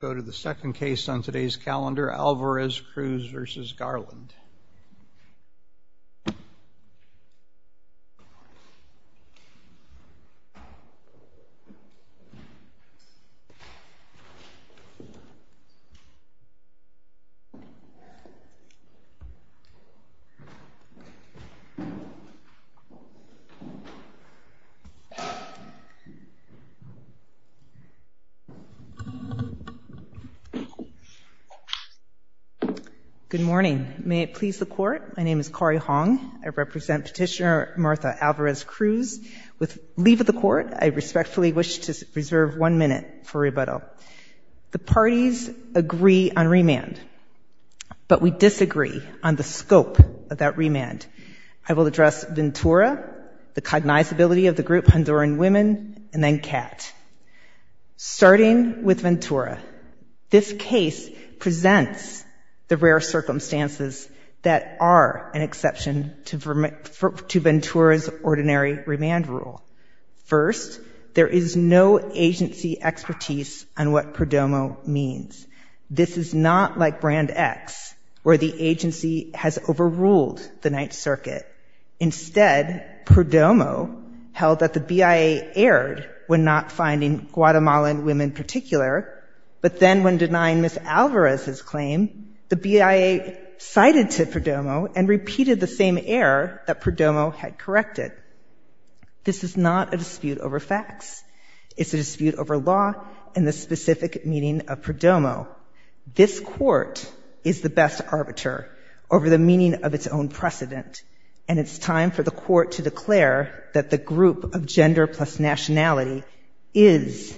Go to the second case on today's calendar, Alvarez-Cruz v. Garland Good morning. May it please the Court, my name is Kari Hong. I represent Petitioner Martha Alvarez-Cruz. With leave of the Court, I respectfully wish to reserve one minute for rebuttal. The parties agree on remand, but we disagree on the scope of that remand. I will address Ventura, the cognizability of the group Honduran Women, and then CAT. Starting with Ventura, this case presents the rare circumstances that are an exception to Ventura's ordinary remand rule. First, there is no agency expertise on what Prodomo means. This is not like Brand X, where the agency has overruled the Ninth Circuit. Instead, Prodomo held that the BIA erred when not finding Guatemalan women particular, but then when denying Ms. Alvarez's claim, the BIA cited to Prodomo and repeated the same error that Prodomo had corrected. This is not a dispute over facts. It's a dispute over law and the specific meaning of Prodomo. This Court is the best arbiter over the meaning of its own word to declare that the group of gender plus nationality is,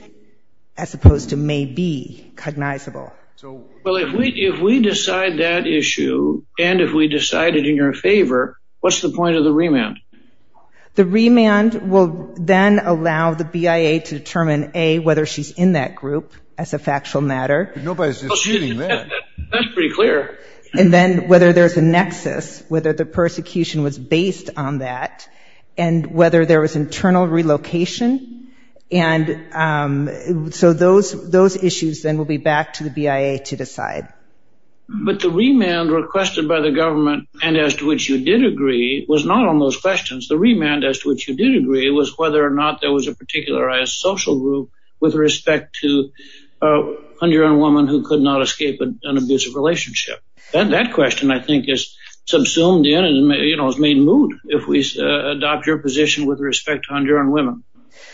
as opposed to may be, cognizable. Well, if we decide that issue, and if we decide it in your favor, what's the point of the remand? The remand will then allow the BIA to determine, A, whether she's in that group, as a factual matter, and then whether there's a nexus, whether the persecution was based on that, and whether there was internal relocation. So those issues then will be back to the BIA to decide. But the remand requested by the government, and as to which you did agree, was not on those questions. The remand, as to which you did agree, was whether or not there was a particularized social group with respect to a 100-year-old woman who could not escape an abusive relationship. That question, I think, is subsumed in and has made moot if we adopt your position with respect to Honduran women.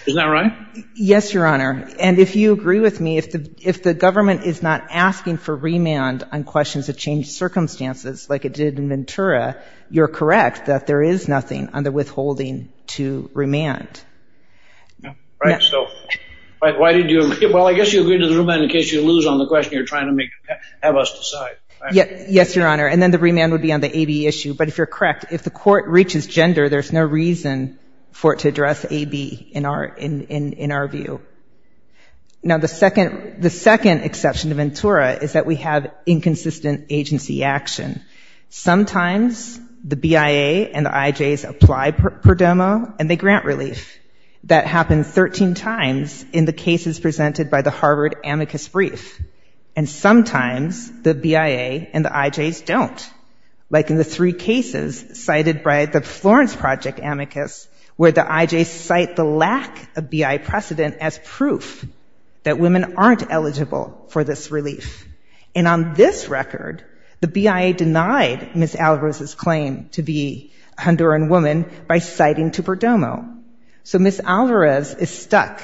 Isn't that right? Yes, Your Honor. And if you agree with me, if the government is not asking for remand on questions of changed circumstances, like it did in Ventura, you're correct that there is nothing under withholding to remand. Right. So why did you agree? Well, I guess you agreed to the remand in case you lose on the question you're trying to have us decide. Yes, Your Honor. And then the remand would be on the AB issue. But if you're correct, if the court reaches gender, there's no reason for it to address AB, in our view. Now the second exception to Ventura is that we have inconsistent agency action. Sometimes the BIA and the IJs apply per domo, and they grant relief. That happens 13 times in the year. And sometimes the BIA and the IJs don't, like in the three cases cited by the Florence Project amicus, where the IJs cite the lack of BIA precedent as proof that women aren't eligible for this relief. And on this record, the BIA denied Ms. Alvarez's claim to be a Honduran woman by citing to per domo. So Ms. Alvarez is stuck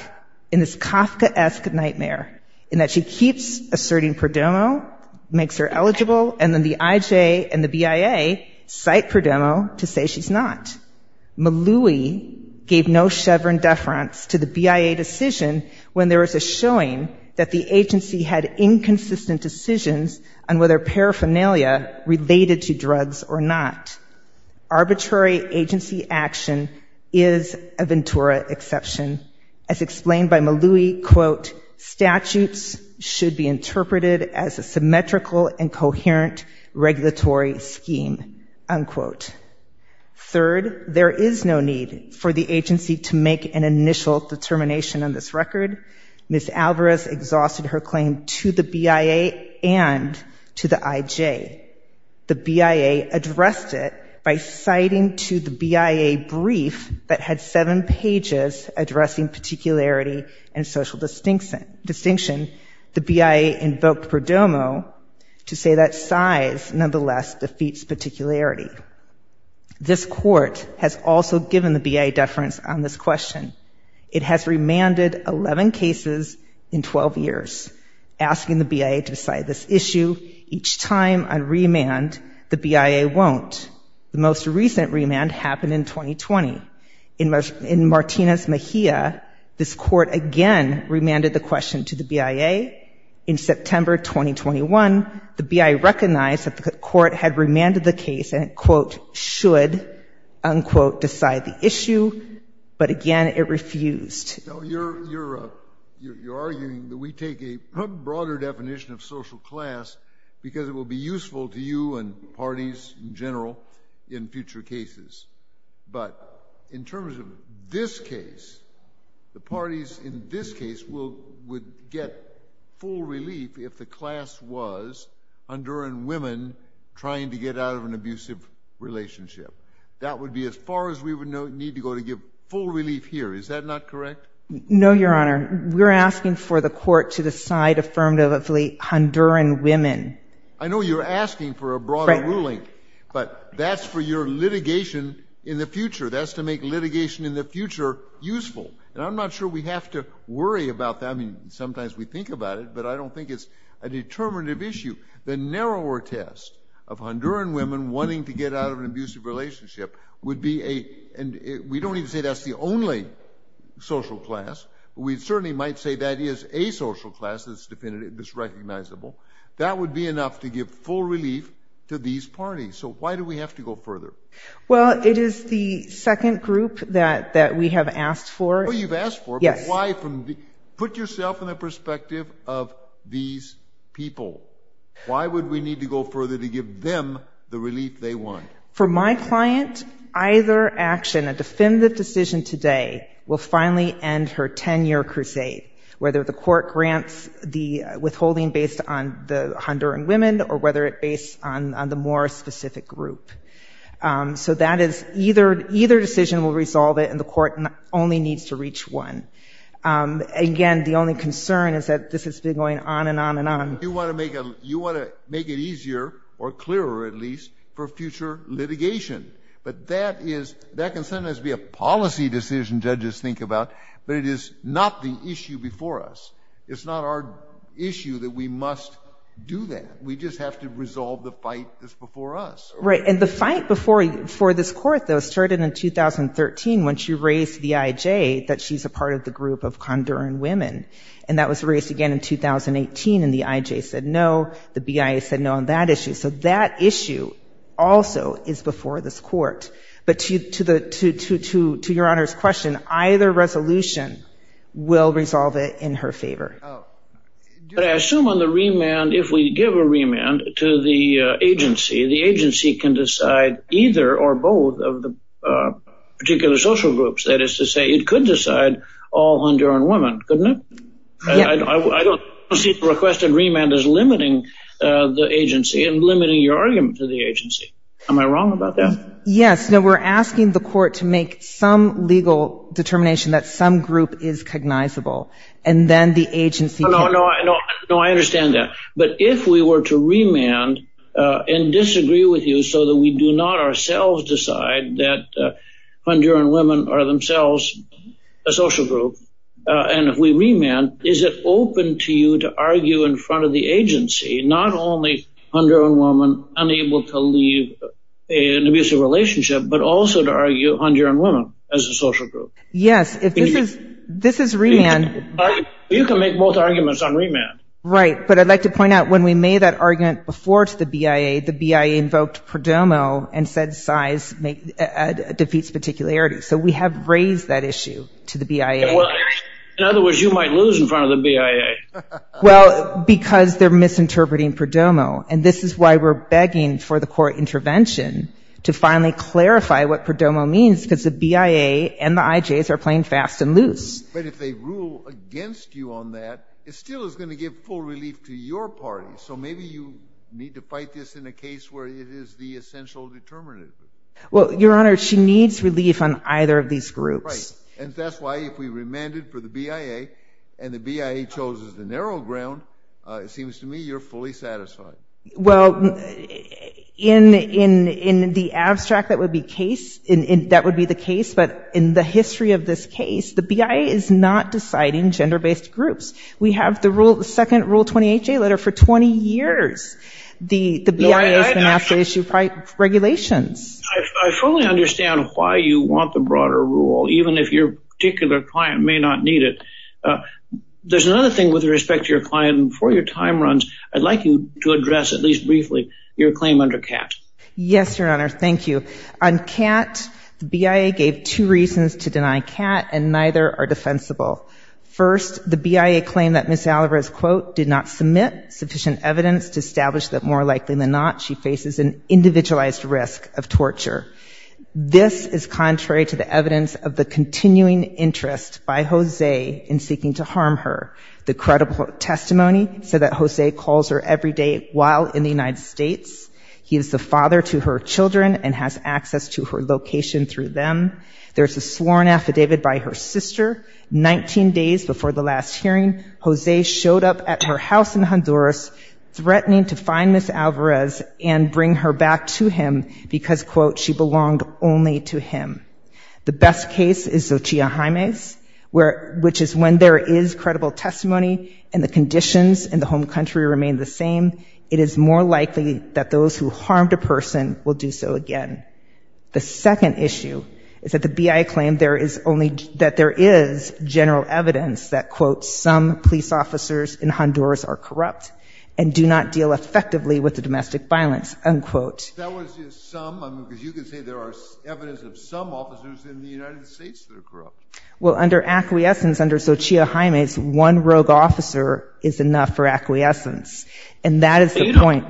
in this Kafkaesque nightmare in that she keeps asserting per domo, makes her eligible, and then the IJ and the BIA cite per domo to say she's not. Maloui gave no chevron deference to the BIA decision when there was a showing that the agency had inconsistent decisions on whether paraphernalia related to drugs or not. Arbitrary agency action is a Ventura exception. As explained by Maloui, statutes should be interpreted as a symmetrical and coherent regulatory scheme. Third, there is no need for the agency to make an initial determination on this record. Ms. Alvarez exhausted her claim to the BIA and to the IJ. The BIA addressed it by citing to the initial distinction the BIA invoked per domo to say that size nonetheless defeats particularity. This court has also given the BIA deference on this question. It has remanded 11 cases in 12 years, asking the BIA to decide this issue. Each time on remand, the BIA won't. The most recent remand happened in 2020. In Martinez-Mejia, this court again remanded the question to the BIA. In September 2021, the BIA recognized that the court had remanded the case and, quote, should, unquote, decide the issue, but again it refused. You're arguing that we take a broader definition of social class because it will be useful to you and parties in general in future cases, but in terms of this case, the parties in this case would get full relief if the class was Honduran women trying to get out of an abusive relationship. That would be as far as we would need to go to give full relief here. Is that not correct? No, Your Honor. We're asking for the court to decide affirmatively Honduran women. I know you're asking for a broader ruling, but that's for your litigation in the future. That's to make litigation in the future useful. I'm not sure we have to worry about that. Sometimes we think about it, but I don't think it's a determinative issue. The narrower test of Honduran women wanting to get out of an abusive relationship would be a... We don't even say that's the only social class. We certainly might say that is a social class that's recognizable. That would be enough to give full relief to these parties. Why do we have to go further? It is the second group that we have asked for. You've asked for it, but why? Put yourself in the perspective of these people. Why would we need to go further to give them the relief they want? For my client, either action, a definitive decision today, will finally end her 10-year crusade, whether the court grants the withholding based on the Honduran women or whether it based on the more specific group. Either decision will resolve it, and the court only needs to reach one. Again, the only concern is that this has been going on and on and on. You want to make it easier, or clearer at least, for future litigation. That can sometimes be a policy decision judges think about, but it is not the issue before us. It's not our issue that we must do that. We just have to resolve the fight that's before us. The fight before this court, though, started in 2013 when she raised to the IJ that she's a part of the group of Honduran women. That was raised again in 2018. The IJ said no. The BIA said no on that issue. That issue also is before this court. To Your Honor's question, either resolution will resolve it in her favor. I assume on the remand, if we give a remand to the agency, the agency can decide either or both of the particular social groups. That is to say, it could decide all Honduran women, couldn't it? I don't see the requested remand as limiting the agency and limiting your argument to the agency. Am I wrong about that? Yes. No, we're asking the court to make some legal determination that some group is cognizable, and then the agency can... No, I understand that. But if we were to remand and disagree with you so that we do not ourselves decide that Honduran women are themselves a social group, and if we remand, is it open to you to argue in front of the agency, not only Honduran women unable to leave an abusive relationship, but also to argue Honduran women as a social group? Yes. This is remand. You can make both arguments on remand. Right. But I'd like to point out, when we made that argument before to the BIA, the BIA defeats particularity. So we have raised that issue to the BIA. In other words, you might lose in front of the BIA. Well, because they're misinterpreting PRODOMO. And this is why we're begging for the court intervention to finally clarify what PRODOMO means, because the BIA and the IJs are playing fast and loose. But if they rule against you on that, it still is going to give full relief to your party. So maybe you need to fight this in a case where it is the essential determinative. Well, Your Honor, she needs relief on either of these groups. Right. And that's why if we remanded for the BIA and the BIA chose the narrow ground, it seems to me you're fully satisfied. Well, in the abstract, that would be the case. But in the history of this case, the BIA is not deciding gender-based groups. We have the second Rule 28J letter for 20 years. The BIA has been asked to issue regulations. I fully understand why you want the broader rule, even if your particular client may not need it. There's another thing with respect to your client. Before your time runs, I'd like you to address, at least briefly, your claim under CAT. Yes, Your Honor. Thank you. On CAT, the BIA gave two reasons to deny CAT, and neither are defensible. First, the BIA claimed that Ms. Alvarez, quote, did not submit sufficient evidence to establish that, more likely than not, she faces an individualized risk of torture. This is contrary to the evidence of the continuing interest by Jose in seeking to harm her. The credible testimony said that Jose calls her every day while in the United States. He is the father to her children and has access to her location through them. There's a sworn affidavit by her sister. Nineteen days before the last hearing, Jose showed up at her house in Honduras, threatening to find Ms. Alvarez and bring her back to him because, quote, she belonged only to him. The best case is Xochitl Jaime's, which is when there is credible testimony and the conditions in the home country remain the same, it is more likely that those who harmed a person will do so again. The second issue is that the BIA claimed there is only, that there is general evidence that, quote, some police officers in Honduras are corrupt and do not deal effectively with the domestic violence, unquote. That was just some, because you can say there are evidence of some officers in the United States that are corrupt. Well, under acquiescence, under Xochitl Jaime's, one rogue officer is enough for acquiescence. And that is the point.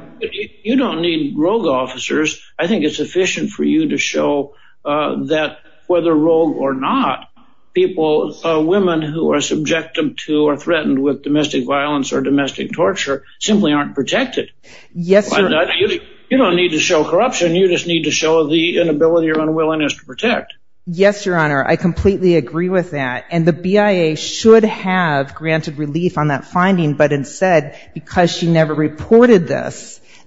You don't need rogue officers. I think it's efficient for you to show that whether rogue or not, people, women who are subjected to or threatened with domestic violence or domestic torture simply aren't protected. Yes, sir. You don't need to show corruption. You just need to show the inability or unwillingness to protect. Yes, Your Honor. I completely agree with that. And the BIA should have granted relief on that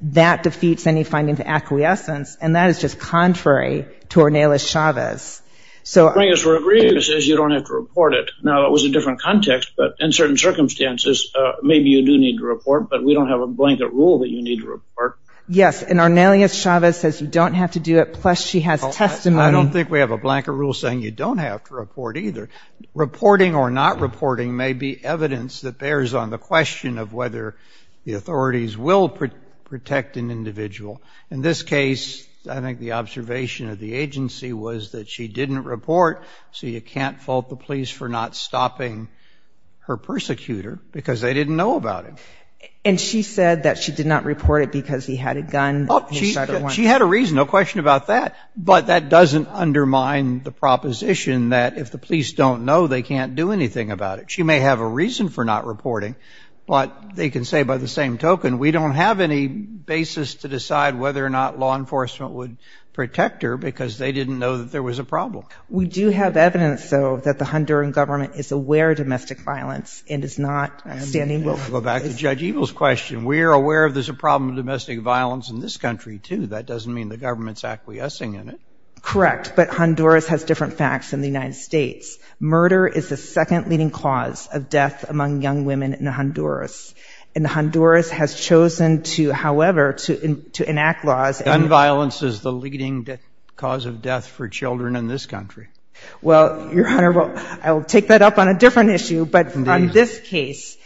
That defeats any finding of acquiescence. And that is just contrary to Ornelas Chavez. So, I guess we're agreeing that says you don't have to report it. Now, that was a different context, but in certain circumstances, maybe you do need to report, but we don't have a blanket rule that you need to report. Yes. And Ornelas Chavez says you don't have to do it. Plus, she has testimony. I don't think we have a blanket rule saying you don't have to report either. Reporting or not reporting may be evidence that bears on the question of whether the authorities will protect an individual. In this case, I think the observation of the agency was that she didn't report, so you can't fault the police for not stopping her persecutor because they didn't know about it. And she said that she did not report it because he had a gun. She had a reason, no question about that. But that doesn't undermine the proposition that if the police don't know, they can't do anything about it. She may have a reason for not reporting, but they can say, by the same token, we don't have any basis to decide whether or not law enforcement would protect her because they didn't know that there was a problem. We do have evidence, though, that the Honduran government is aware of domestic violence and is not standing with it. We'll go back to Judge Eagle's question. We are aware there's a problem of domestic violence in this country, too. That doesn't mean the government's acquiescing in it. Correct. But Honduras has different facts than the United States. Murder is the second leading cause of death among young women in Honduras. And Honduras has chosen to, however, to enact laws. Gun violence is the leading cause of death for children in this country. Well, Your Honor, I'll take that up on a different issue, but on this case,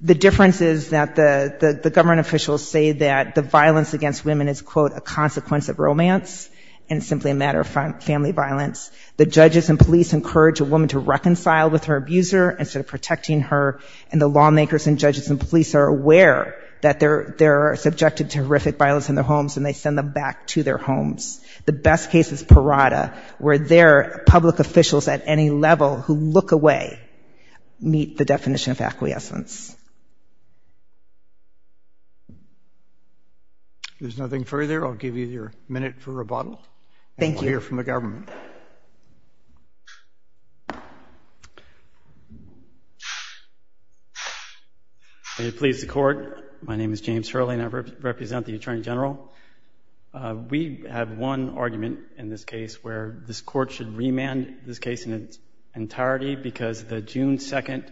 the difference is that the government officials say that the violence against women is, quote, a consequence of romance and simply a matter of family violence. The judges and police encourage a woman to reconcile with her abuser instead of protecting her. And the lawmakers and judges and police are aware that they're subjected to horrific violence in their homes, and they send them back to their homes. The best case is parada, where their public officials at any level who look away meet the definition of acquiescence. There's nothing further. I'll give you your minute for rebuttal. Thank you. We'll hear from the government. Will you please, the court? My name is James Hurley, and I represent the Attorney General. We have one argument in this case where this court should remand this case in its entirety because the June 2nd,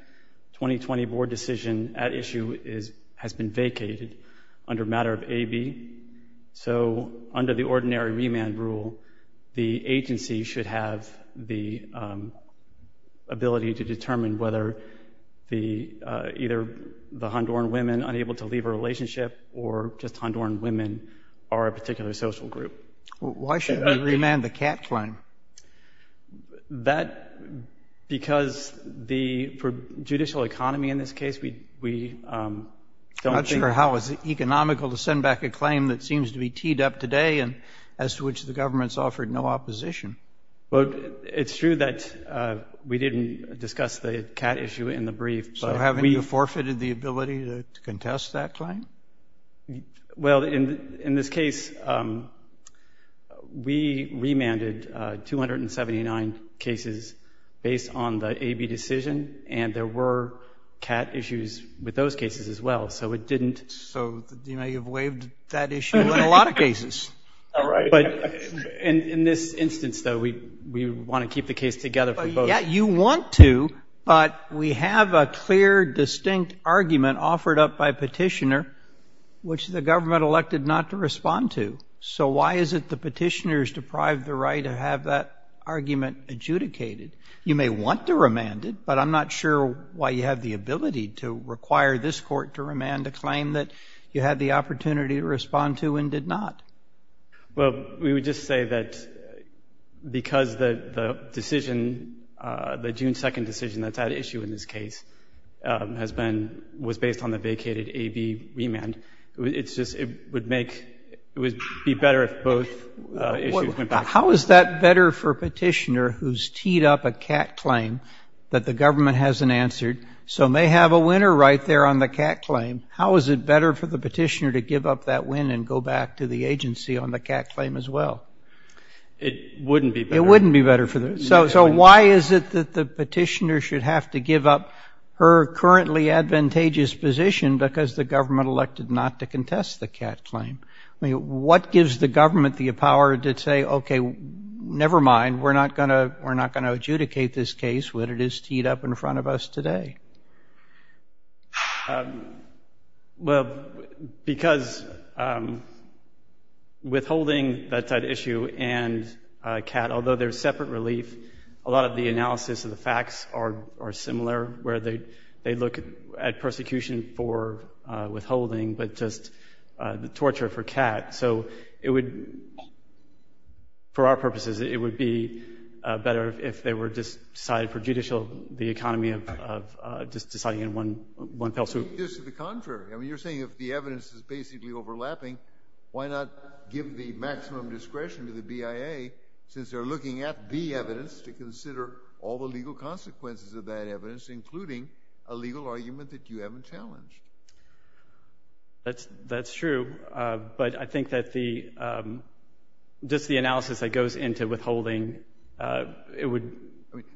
2020 board decision at issue has been vacated under matter of AB. So under the ordinary remand rule, the agency should have the ability to determine whether either the Honduran women unable to leave a relationship or just Honduran women are a particular social group. Why should we remand the cat claim? That because for judicial economy in this case, we don't think— That seems to be teed up today and as to which the government's offered no opposition. But it's true that we didn't discuss the cat issue in the brief. So haven't you forfeited the ability to contest that claim? Well, in this case, we remanded 279 cases based on the AB decision, and there were cat issues with those cases as well. So it didn't— You may have waived that issue in a lot of cases. But in this instance, though, we want to keep the case together for both. Yeah, you want to, but we have a clear, distinct argument offered up by petitioner which the government elected not to respond to. So why is it the petitioners deprived the right to have that argument adjudicated? You may want to remand it, but I'm not sure why you have the ability to require this court to claim that you had the opportunity to respond to and did not. Well, we would just say that because the decision, the June 2 decision that's at issue in this case has been—was based on the vacated AB remand. It's just—it would make—it would be better if both issues— How is that better for petitioner who's teed up a cat claim that the government hasn't answered? So may have a winner right there on the cat claim. How is it better for the petitioner to give up that win and go back to the agency on the cat claim as well? It wouldn't be better. It wouldn't be better for them. So why is it that the petitioner should have to give up her currently advantageous position because the government elected not to contest the cat claim? I mean, what gives the government the power to say, okay, never mind. We're not going to adjudicate this case when it is teed up in front of us today. Well, because withholding that issue and a cat, although they're separate relief, a lot of the analysis of the facts are similar where they look at persecution for withholding, but just the torture for cat. So it would—for our purposes, it would be better if they were just decided for judicial, the economy of just deciding in one fell swoop. Just to the contrary. I mean, you're saying if the evidence is basically overlapping, why not give the maximum discretion to the BIA since they're looking at the evidence to consider all the legal consequences of that evidence, including a legal argument that you haven't challenged? That's true. But I think that the—just the analysis that goes into withholding, it would—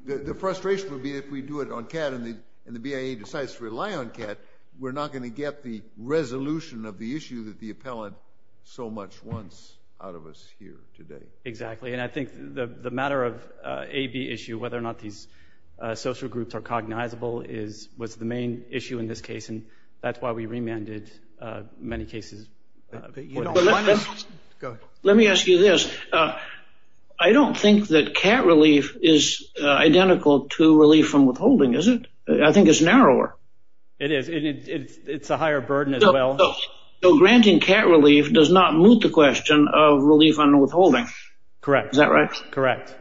the frustration would be if we do it on cat and the BIA decides to rely on cat, we're not going to get the resolution of the issue that the appellant so much wants out of us here today. Exactly. And I think the matter of AB issue, whether or not these social groups are cognizable, is—was the main issue in this case. And that's why we remanded many cases. Let me ask you this. I don't think that cat relief is identical to relief on withholding, is it? I think it's narrower. It is. It's a higher burden as well. Granting cat relief does not move the question of relief on withholding. Correct. Is that right? Correct.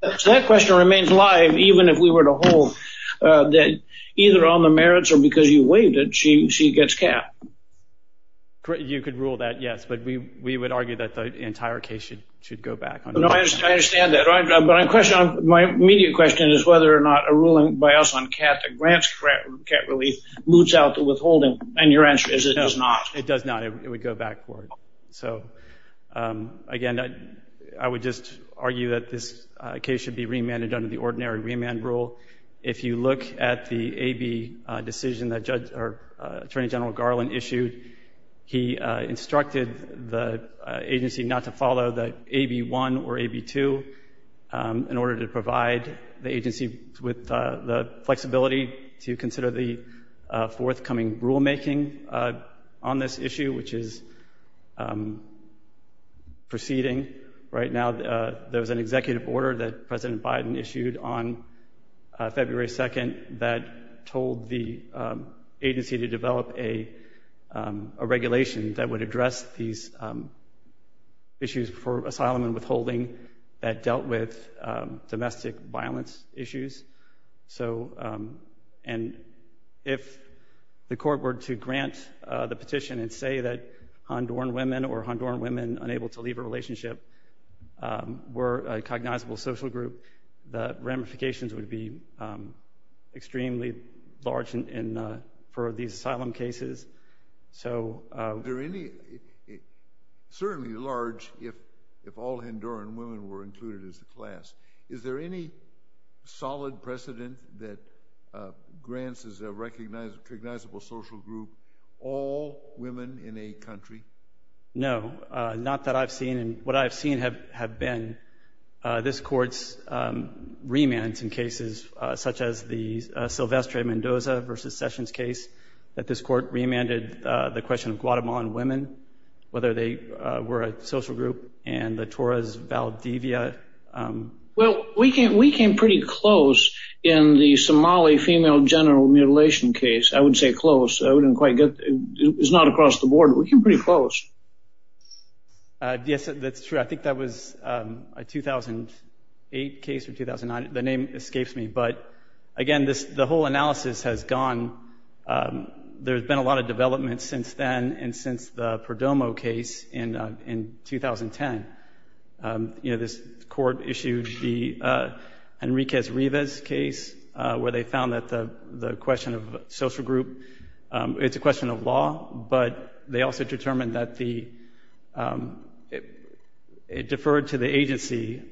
That question remains alive even if we were to hold that either on the merits or because you waived it, she gets cat. You could rule that, yes. We would argue that the entire case should go back. I understand that. My immediate question is whether or not a ruling by us on cat that grants cat relief moves out to withholding. And your answer is it does not. It does not. It would go back forward. Again, I would just argue that this case should be remanded under the ordinary remand rule. If you look at the AB decision that Attorney General Garland issued, he instructed the agency not to follow the AB1 or AB2 in order to provide the agency with the flexibility to consider the forthcoming rulemaking on this issue, which is proceeding right now. There was an executive order that President Biden issued on February 2nd that told the a regulation that would address these issues for asylum and withholding that dealt with domestic violence issues. And if the court were to grant the petition and say that Honduran women or Honduran women unable to leave a relationship were a cognizable social group, the ramifications would be extremely large for these asylum cases. So certainly large if all Honduran women were included as the class. Is there any solid precedent that grants as a recognizable social group all women in a country? No, not that I've seen. And what I've seen have been this court's remands in cases such as the Silvestre Mendoza versus Sessions case that this court remanded the question of Guatemalan women, whether they were a social group and the Torres Valdivia. Well, we came pretty close in the Somali female general mutilation case. I would say close. I wouldn't quite get it's not across the board. We came pretty close. Yes, that's true. I think that was a 2008 case or 2009. The name escapes me. But again, the whole analysis has gone. There's been a lot of development since then and since the Perdomo case in 2010. You know, this court issued the Enriquez Rivas case where they found that the question of but they also determined that it deferred to the agency,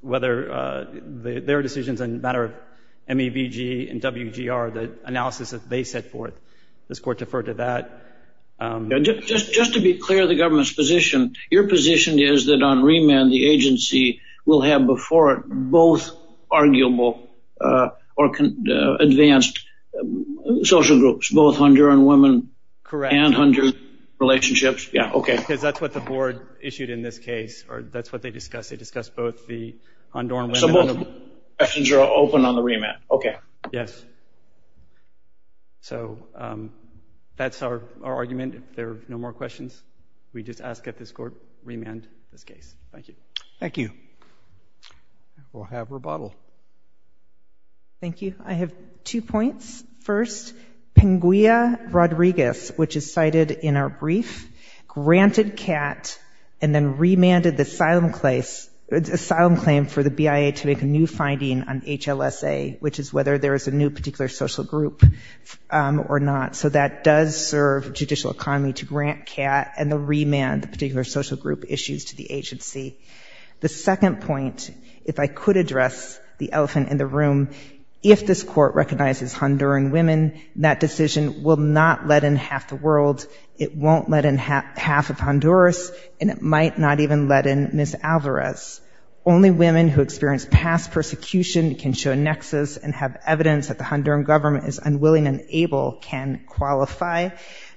whether their decisions in the matter of MEVG and WGR, the analysis that they set forth, this court deferred to that. Just to be clear, the government's position, your position is that on remand, the agency will have before it both arguable or advanced social groups, both Honduran women and Honduran relationships. Yeah, OK. Because that's what the board issued in this case. That's what they discussed. They discussed both the Honduran women. So both questions are open on the remand. OK. Yes. So that's our argument. There are no more questions. We just ask that this court remand this case. Thank you. Thank you. We'll have rebuttal. Thank you. I have two points. First, Pingüia Rodriguez, which is cited in our brief, granted CAT and then remanded the asylum claim for the BIA to make a new finding on HLSA, which is whether there is a new particular social group or not. So that does serve judicial economy to grant CAT and the remand, the particular social issues to the agency. The second point, if I could address the elephant in the room, if this court recognizes Honduran women, that decision will not let in half the world. It won't let in half of Honduras. And it might not even let in Ms. Alvarez. Only women who experienced past persecution can show nexus and have evidence that the Honduran government is unwilling and able can qualify.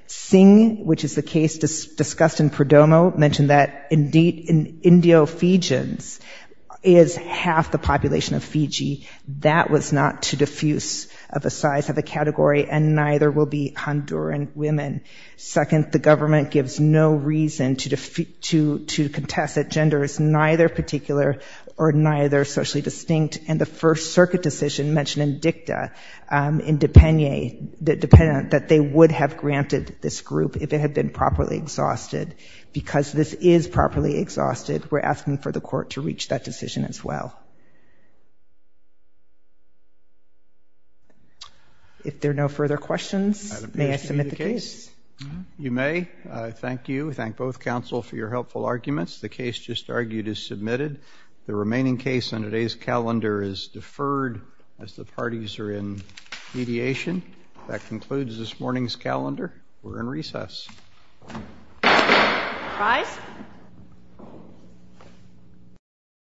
Singh, which is the case discussed in Perdomo, mentioned that Indio-Fijians is half the population of Fiji. That was not too diffuse of a size, of a category, and neither will be Honduran women. Second, the government gives no reason to contest that gender is neither particular or neither socially distinct. And the first circuit decision mentioned in dicta, in Depenye, that they would have granted this group if it had been properly exhausted. Because this is properly exhausted, we're asking for the court to reach that decision as well. If there are no further questions, may I submit the case? I have a question on the case. You may. Thank you. Thank both counsel for your helpful arguments. The case just argued is submitted. The remaining case on today's calendar is deferred as the parties are in mediation. That concludes this morning's calendar. We're in recess.